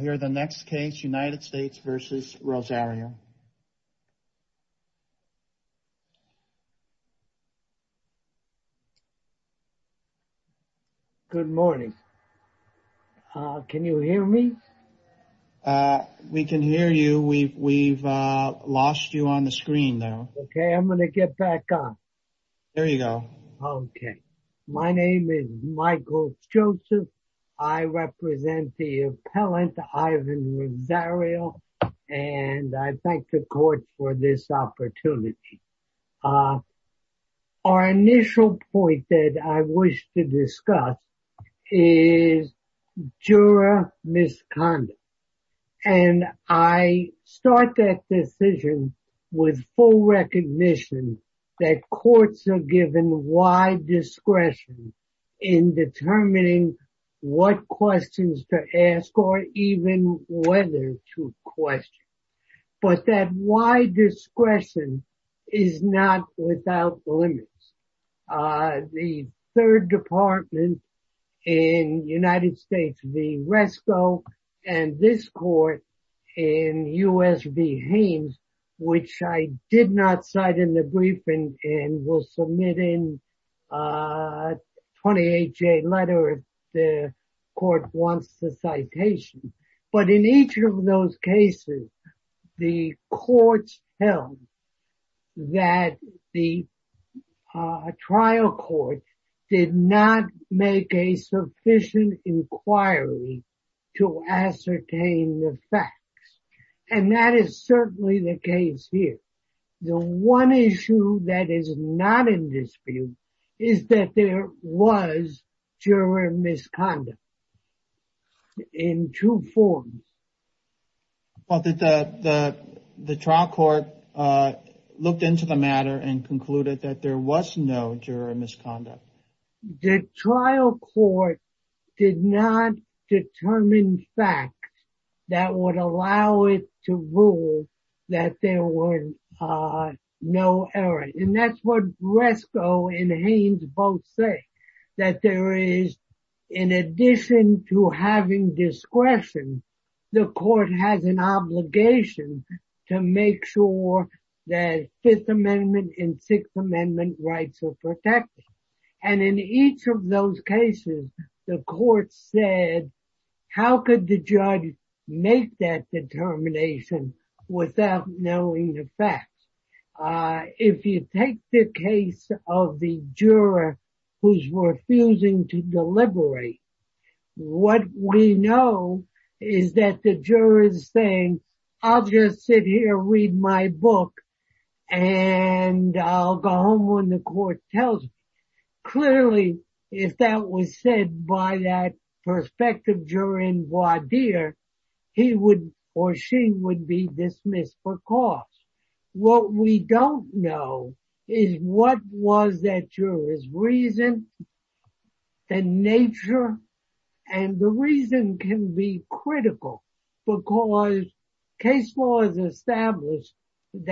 here the next case United States v. Rosario. Good morning. Can you hear me? We can hear you. We've lost you on the screen now. Okay, I'm going to get back on. There you go. Okay. My name is Michael Joseph. I represent the appellant Ivan Rosario. And I thank the court for this opportunity. Our initial point that I wish to discuss is juror misconduct. And I start that decision with full recognition that courts are given wide discretion in determining what questions to ask or even whether to question. But that wide discretion is not without limits. The third department in United States v. Resco and this court in U.S. v. Haynes, which I did not cite in the briefing and will submit in a 28-J letter if the court wants the citation. But in those cases, the courts held that the trial court did not make a sufficient inquiry to ascertain the facts. And that is certainly the case here. The one issue that is not in dispute is that there juror misconduct in two forms. The trial court looked into the matter and concluded that there was no juror misconduct. The trial court did not determine facts that would allow it to rule that there was no error. And that's what Resco and Haynes both say. That there is, in addition to having discretion, the court has an obligation to make sure that Fifth Amendment and Sixth Amendment rights are protected. And in each of those cases, the court said, how could the judge make that determination without knowing the facts? If you take the case of the juror who's refusing to deliberate, what we know is that the juror is saying, I'll just sit here, read my book, and I'll go home when the court tells me. Clearly, if that was said by that perspective during voir dire, he would or she would be dismissed for cause. What we don't know is what was that juror's reason, the nature. And the reason can be critical because case law has required mistrial.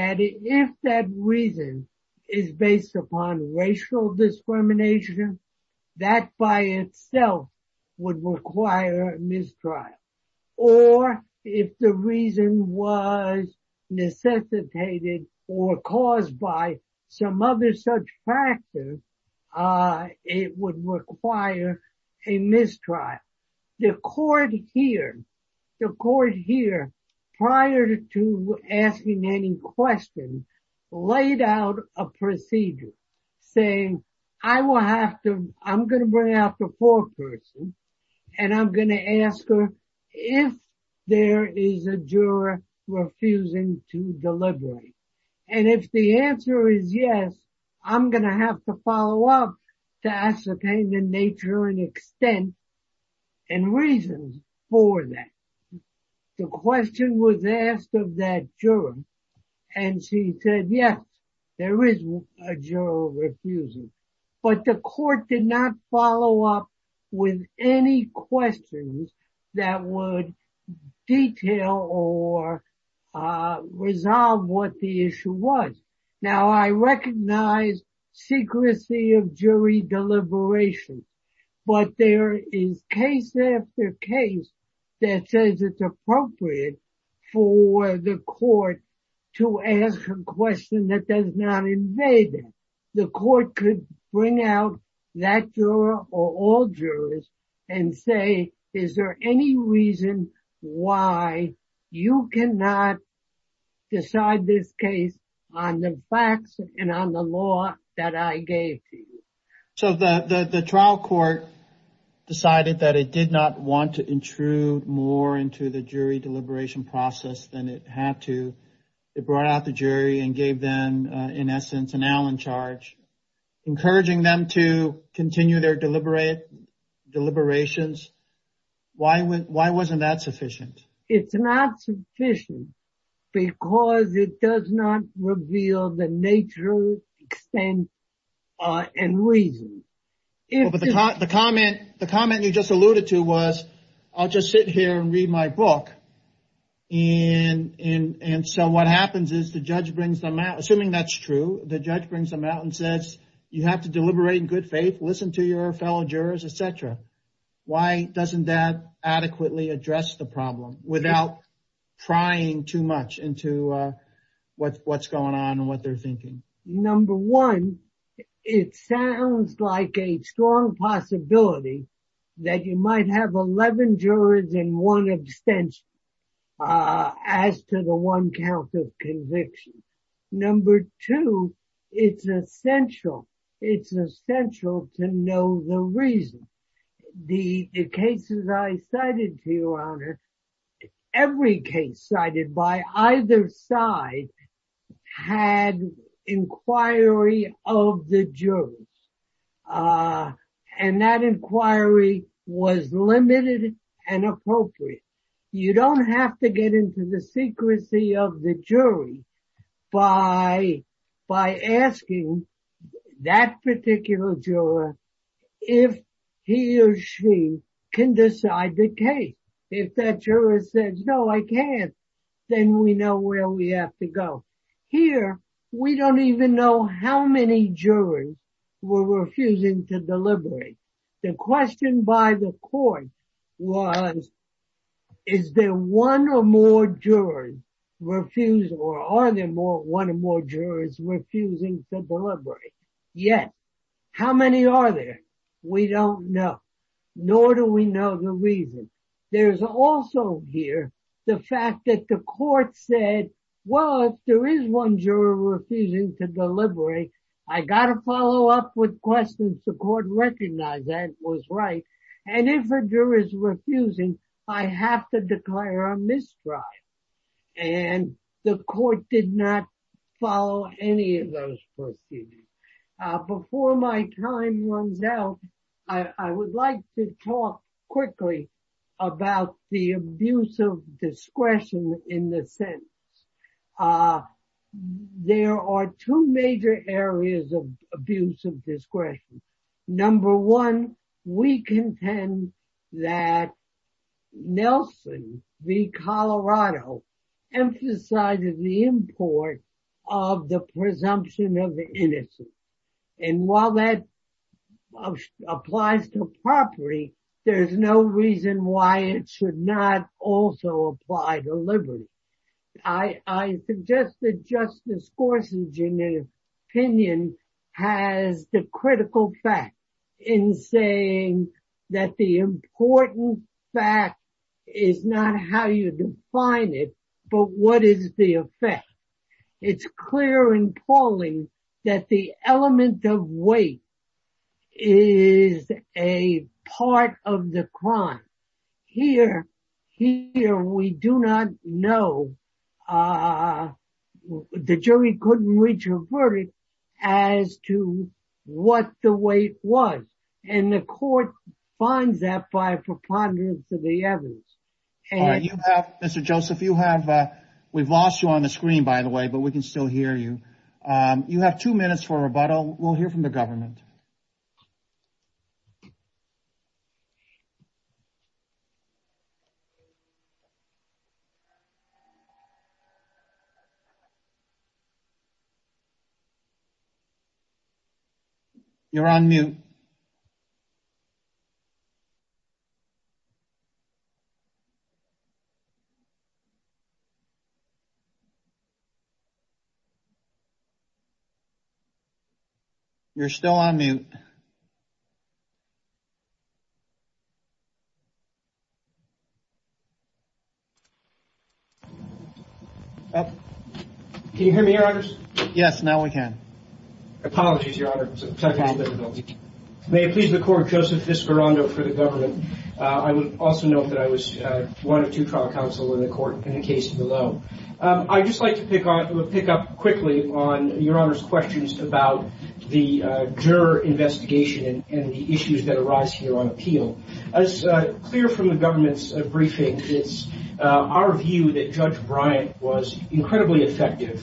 Or if the reason was necessitated or caused by some other such factor, it would require a mistrial. The court here, prior to asking any questions, laid out a procedure saying, I'm going to bring out the foreperson and I'm going to ask her if there is a juror refusing to deliberate. And if the answer is yes, I'm going to have to follow up to ascertain the nature and extent and reasons for that. The question was asked of that juror and she said, yes, there is a juror refusing. But the court did not follow up with any questions that would detail or resolve what the issue was. Now, I recognize secrecy of jury deliberation, but there is case after case that says it's appropriate for the court to ask a question that does not invade it. The court could bring out that juror or all jurors and say, is there any reason why you cannot decide this case on the facts and on the law that I gave to you? The federal court decided that it did not want to intrude more into the jury deliberation process than it had to. It brought out the jury and gave them, in essence, an Allen charge, encouraging them to continue their deliberations. Why wasn't that sufficient? It's not sufficient because it does not reveal the nature, extent, and reason. But the comment you just alluded to was, I'll just sit here and read my book. And so what happens is the judge brings them out, assuming that's true, the judge brings them out and says, you have to deliberate in good faith, listen to your fellow jurors, et cetera. Why doesn't that adequately address the problem without trying too much into what's going on and what they're thinking? Number one, it sounds like a strong possibility that you might have 11 jurors in one abstention as to the one count of conviction. Number two, it's essential. It's essential to know the reason. The cases I cited to you, Honor, every case cited by either side had inquiry of the jurors. And that inquiry was limited and appropriate. You don't have to get into the secrecy of the jury by asking that particular juror if he or she can decide the case. If that juror says, no, I can't, then we know where we have to go. Here, we don't even know how many jurors were refusing to deliberate. The question by the court was, is there one or more jurors refusing or are there one or more jurors refusing to deliberate? Yet, how many are there? We don't know, nor do we know the reason. There's also here the fact that the court said, well, if there is one juror refusing to deliberate, I got to follow up with questions the court recognized that was right. And if a juror is refusing, I have to declare a misdrive. And the court did not follow any of those proceedings. Before my time runs out, I would like to talk quickly about the abuse of liberty. I contend that Nelson v. Colorado emphasized the import of the presumption of the innocent. And while that applies to property, there's no reason why it should not also apply to that the important fact is not how you define it, but what is the effect. It's clear and appalling that the element of weight is a part of the crime. Here, we do not know, uh, the jury couldn't reach a verdict as to what the weight was. And the court finds that by preponderance of the evidence. All right, you have, Mr. Joseph, you have, uh, we've lost you on the screen, by the way, but we can still hear you. You have two minutes for a rebuttal. We'll hear from the government. You're on mute. You're still on mute. Can you hear me, Your Honors? Yes, now we can. Apologies, Your Honor. May it please the Court, Joseph Viscarondo, for the government. I would also note that I was one of two trial counsel in the court in the case below. I'd just like to pick up quickly on Your Honor's questions about the juror investigation and the issues that arise here on appeal. As clear from the government's briefing, it's our view that Judge Bryant was incredibly effective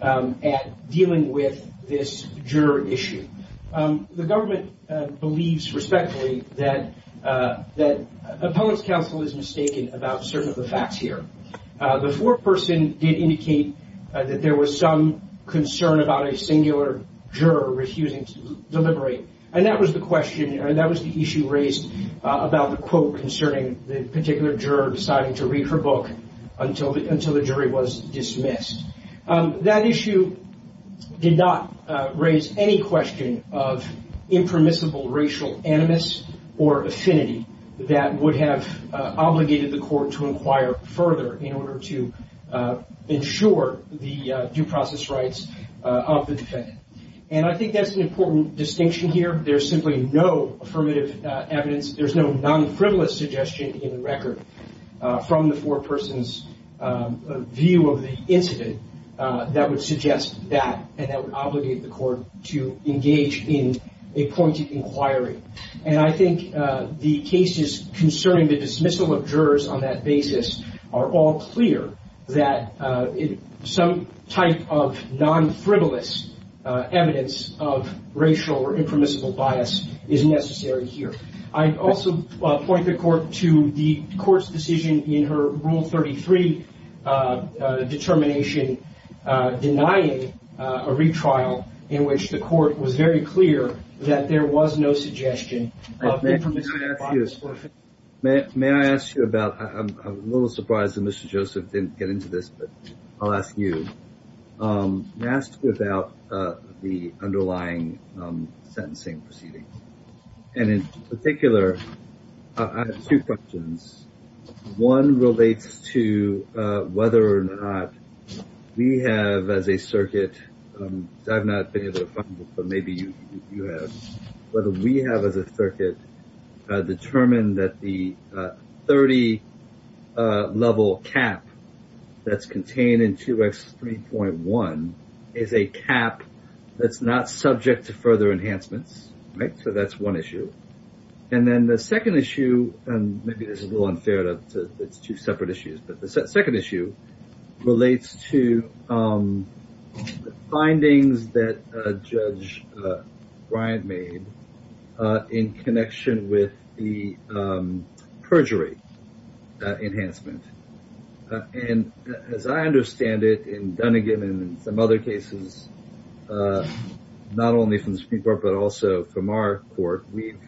at dealing with this juror issue. The government believes respectfully that, uh, that appellate's counsel is mistaken about certain of the facts here. The foreperson did indicate that there was some concern about a singular juror refusing to deliberate. And that was the question, or that was the issue raised about the quote concerning the particular juror deciding to read her book until the until the jury was dismissed. That issue did not raise any question of impermissible racial animus or affinity that would have obligated the court to inquire further in order to ensure the due process rights of the defendant. And I think that's an important distinction here. There's simply no affirmative evidence. There's no non-frivolous suggestion in record from the foreperson's view of the incident that would suggest that and that would obligate the court to engage in a pointed inquiry. And I think the cases concerning the dismissal of jurors on that basis are all clear that some type of non-frivolous evidence of racial or impermissible bias is necessary here. I also point the court to the court's decision in her Rule 33 determination denying a retrial in which the court was very clear that there was no suggestion. May I ask you about, I'm a little surprised that Mr. Joseph didn't get into this, but I'll ask you about the underlying sentencing proceedings. And in particular, I have two questions. One relates to whether or not we have as a circuit, I've not been able to find it, but maybe you have, whether we have as a circuit determined that the 30 level cap that's contained in 2X3.1 is a cap that's not subject to further enhancements, right? So that's one issue. And then the second issue, and maybe this is a little unfair that it's two separate issues, but the second issue relates to the findings that Judge Bryant made in connection with the perjury enhancement. And as I understand it, in Dunnigan and some other cases, not only from the Supreme Court, but also from our court, we've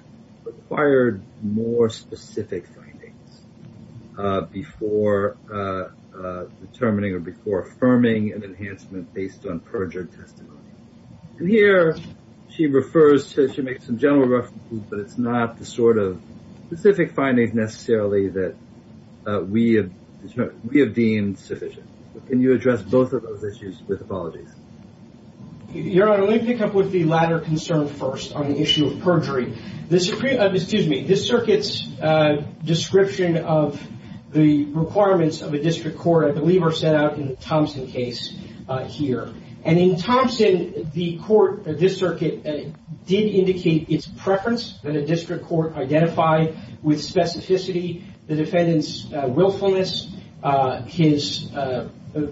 required more specific findings before determining or before affirming an enhancement based on perjured testimony. And here she refers to, she makes some general references, but it's not the sort of specific findings necessarily that we have deemed sufficient. Can you address both of those issues with apologies? Your Honor, let me pick up with the latter concern first on the issue of perjury. The Supreme, excuse me, the circuit's description of the requirements of a district court I believe are set out in the Thompson case here. And in Thompson, the court, this circuit did indicate its preference that a district court identify with specificity the defendant's willfulness, his, the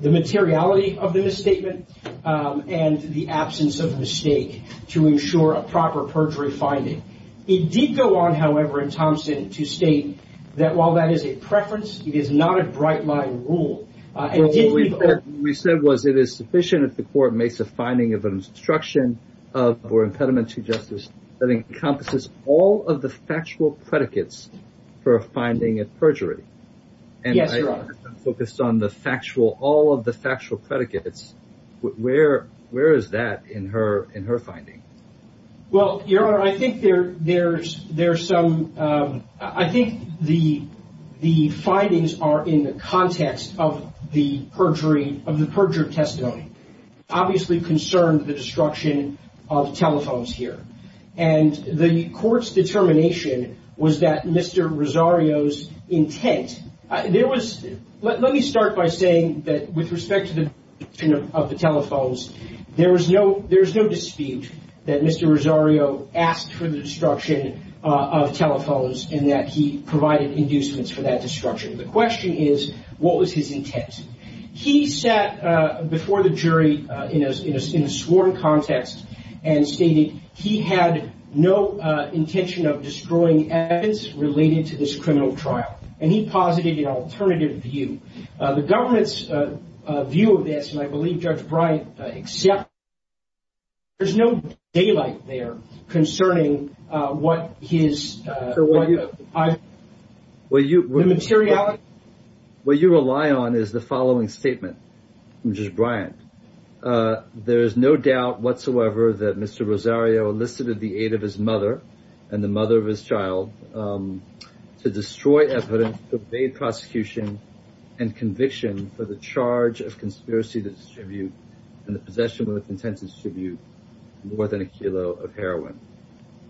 materiality of the misstatement, and the absence of mistake to ensure a proper perjury finding. It did go on, however, in Thompson to state that while that is a preference, it is not a bright line rule. What we said was it is sufficient if the court makes a finding of an obstruction of or impediment to justice that encompasses all of the factual predicates for a finding of perjury. Yes, Your Honor. And I focused on the factual, all of the factual predicates. Where is that in her finding? Well, Your Honor, I think there, there's, there's some, I think the, the findings are in the context of the perjury, of the perjured testimony. Obviously concerned the destruction of telephones here. And the court's determination was that Mr. Rosario's intent, there was, let me start by saying that with respect to the destruction of the telephones, there was no, there's no dispute that Mr. Rosario asked for the destruction of telephones and that he provided inducements for that destruction. The question is, what was his intent? He sat before the jury in a sworn context and stated he had no intention of destroying evidence related to this criminal trial. And he posited an alternative view. The government's view of this, and I believe Judge Bryant accepted, there's no daylight there concerning what his, the materiality. What you rely on is the following statement from Judge Bryant. There is no doubt whatsoever that Mr. Rosario elicited the aid of his mother and the mother of his child to destroy evidence, to evade prosecution and conviction for the charge of conspiracy to distribute and the possession with intent to distribute more than a kilo of heroin.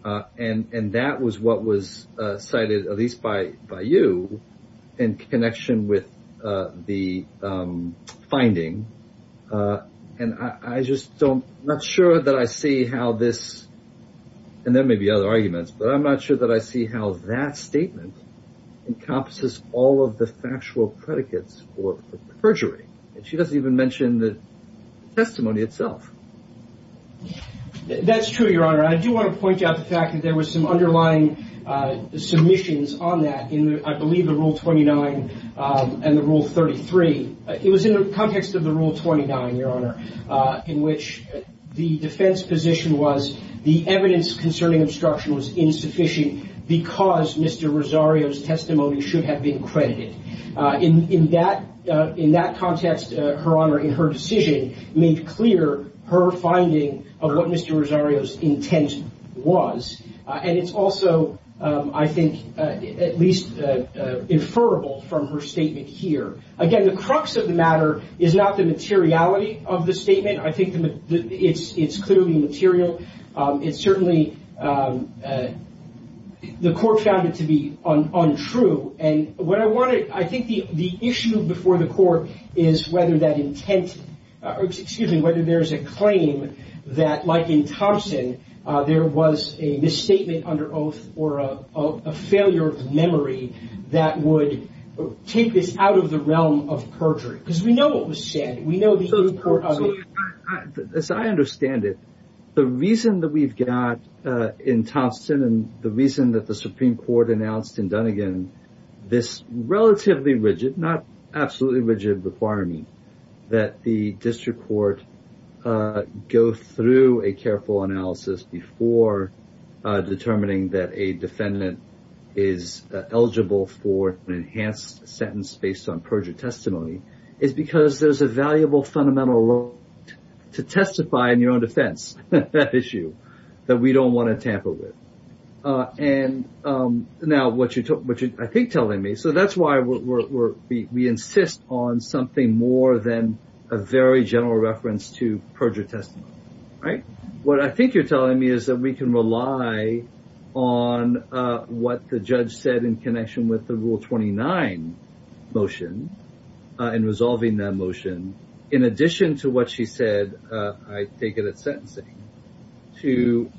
And that was what was cited at least by you in connection with the finding. And I just don't, not sure that I see how this, and there may be other arguments, but I'm not sure that I see how that statement encompasses all of the factual predicates for perjury. And she doesn't even mention the testimony itself. That's true, Your Honor. I do want to point out the fact that there was some underlying submissions on that in, I believe, the Rule 29 and the Rule 33. It was in the context of the Rule 29, Your Honor, in which the defense position was the evidence concerning obstruction was insufficient because Mr. Rosario's testimony should have been credited. In that context, Her Honor, in her decision, made clear her finding of what Mr. Rosario's intent was. And it's also, I think, at least inferable from her statement here. Again, the crux of the matter is not the materiality of the statement. I think it's clearly material. It's certainly, the Court found it to be untrue. And what I wanted, I think the issue before the Court is whether that intent, excuse me, whether there's a claim that, like in Thompson, there was a misstatement under oath or a failure of memory that would take this out of the realm of perjury. Because we know what was said. We know the import of it. As I understand it, the reason that we've got in Thompson and the reason that the Supreme Court announced in Dunnegan this relatively rigid, not absolutely rigid requirement, that the District Court go through a careful analysis before determining that a defendant is eligible for an enhanced sentence based on perjury testimony is because there's a valuable fundamental to testify in your own defense, that issue that we don't want to tamper with. And now what you're, I think, telling me, so that's why we insist on something more than a very general reference to perjury testimony, right? What I think you're telling me is that we can rely on what the judge said in connection with the Rule 29 motion in resolving that motion in addition to what she said, I take it at sentencing, to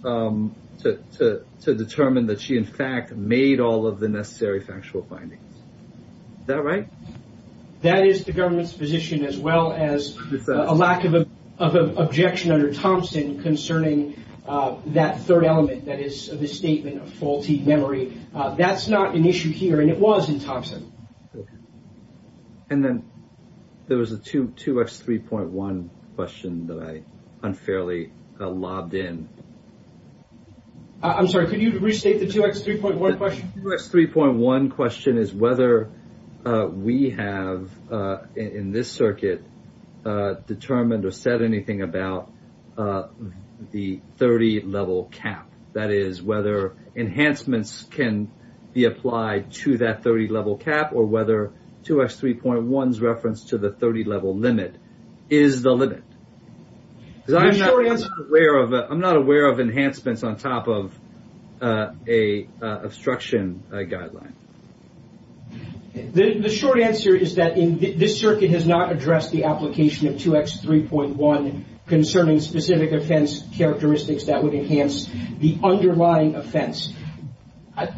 determine that she in fact made all of the necessary factual findings. Is that right? That is the government's position as well as a lack of objection under Thompson concerning that third element, that is the statement of faulty memory. That's not an issue here, it was in Thompson. And then there was a 2X3.1 question that I unfairly lobbed in. I'm sorry, could you restate the 2X3.1 question? The 2X3.1 question is whether we have in this circuit determined or said anything about the 30 level cap, that is whether enhancements can be applied to that 30 level cap or whether 2X3.1's reference to the 30 level limit is the limit. I'm not aware of enhancements on top of a obstruction guideline. The short answer is that this circuit has not addressed the application of 2X3.1 concerning specific offense characteristics that would enhance the underlying offense.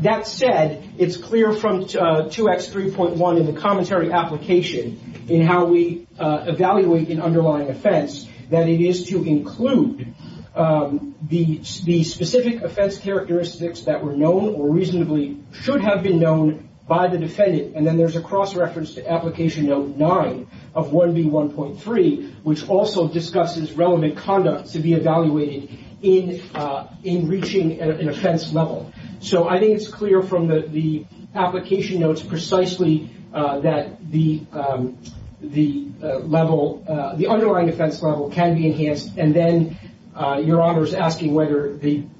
That said, it's clear from 2X3.1 in the commentary application in how we evaluate an underlying offense that it is to include the specific offense characteristics that were known or reasonably should have been known by the defendant. And then there's a cross-reference to Application Note 9 of 1B1.3, which also discusses relevant conduct to be evaluated in reaching an offense level. So I think it's clear from the application notes precisely that the underlying offense level can be enhanced. And then your Honor is asking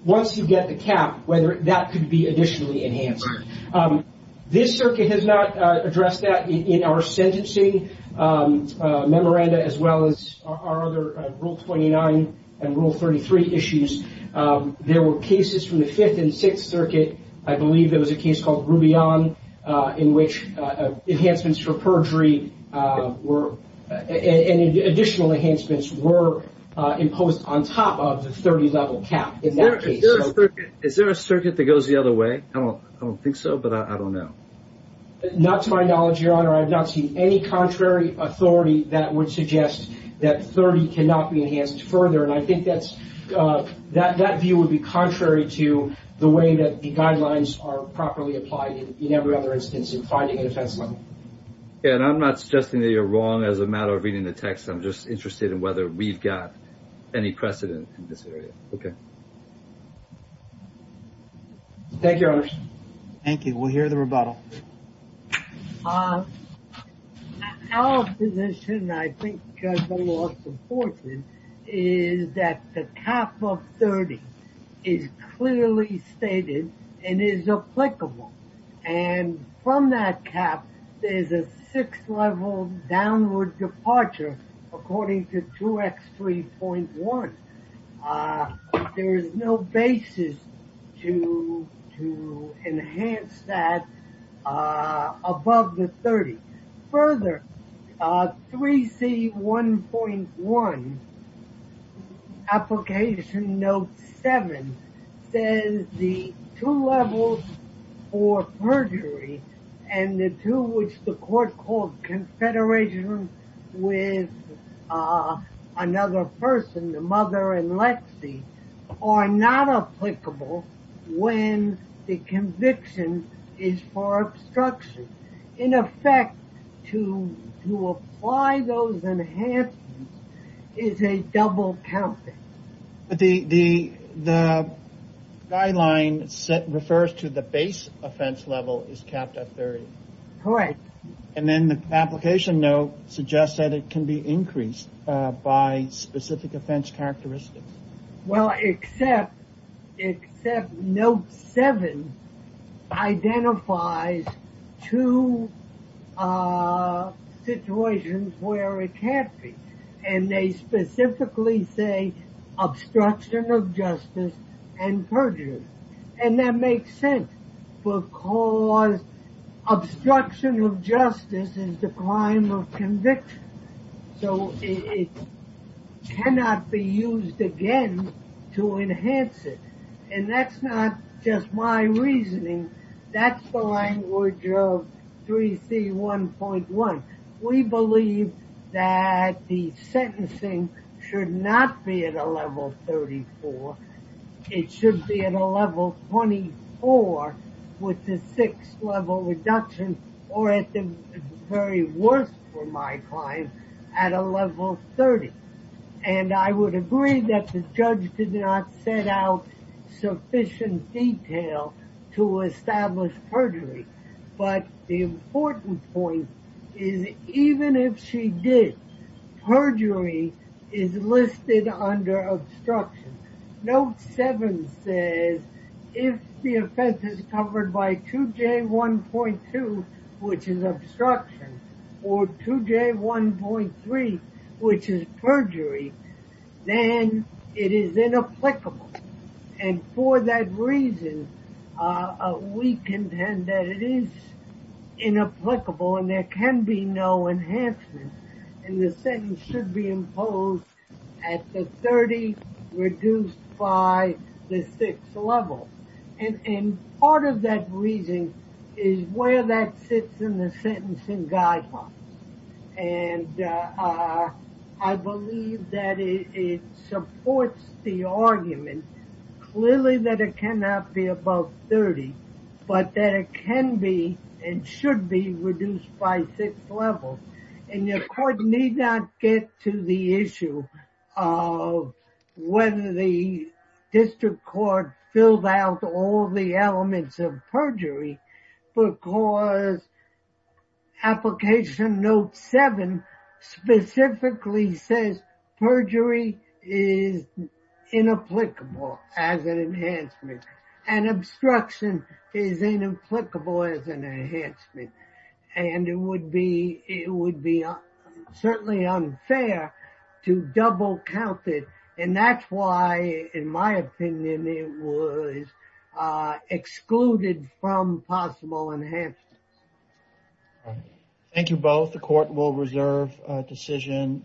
once you get the cap, whether that could be additionally enhanced. This circuit has not addressed those three issues. There were cases from the 5th and 6th Circuit, I believe it was a case called Rubion, in which enhancements for perjury and additional enhancements were imposed on top of the 30 level cap in that case. Is there a circuit that goes the other way? I don't think so, but I don't know. Not to my knowledge, Your Honor. I've not seen any contrary authority that would suggest that 30 cannot be enhanced further. And I think that view would be contrary to the way that the guidelines are properly applied in every other instance in finding an offense level. And I'm not suggesting that you're wrong as a matter of reading the text. I'm just interested in whether we've got any precedent in this area. Okay. Thank you, Your Honor. Thank you. We'll hear the rebuttal. Our position, I think the law supports it, is that the cap of 30 is clearly stated and is applicable. And from that cap, there's a 6th level downward departure according to 2X3.1. There is no basis to enhance that above the 30. Further, 3C1.1, application note 7, says the two levels for perjury and the two which the court called confederation with another person, the mother and Lexi, are not applicable when the conviction is for obstruction. In effect, to apply those enhancements is a double counting. But the guideline refers to the base offense level is capped at 30. Correct. And then the application note suggests that it can be increased by specific offense characteristics. Well, except note 7 identifies two situations where it can't be. And they specifically say obstruction of justice and perjury. And that makes sense because obstruction of justice is the crime of conviction. So it cannot be used again to enhance it. And that's not just my reasoning. That's the language of 3C1.1. We believe that the sentencing should not be at a level 34. It should be at a level 24 with the 6th level reduction or at the very worst for my client at a level 30. And I would agree that the judge did not set out sufficient detail to establish perjury. But the important point is even if she did, perjury is listed under obstruction. Note 7 says if the offense is 2J1.2, which is obstruction, or 2J1.3, which is perjury, then it is inapplicable. And for that reason, we contend that it is inapplicable and there can be no enhancement. And the sentence should be imposed at the 30 reduced by the 6th level. And part of that reasoning is where that sits in the sentencing guidelines. And I believe that it supports the argument clearly that it cannot be above 30 but that it can be and should be reduced by 6th level. And your court need not get to the issue of whether the district court filled out all the elements of perjury because application note 7 specifically says perjury is inapplicable as an offense. And it would be certainly unfair to double count it. And that's why, in my opinion, it was excluded from possible enhancements. Thank you both. The court will reserve a decision.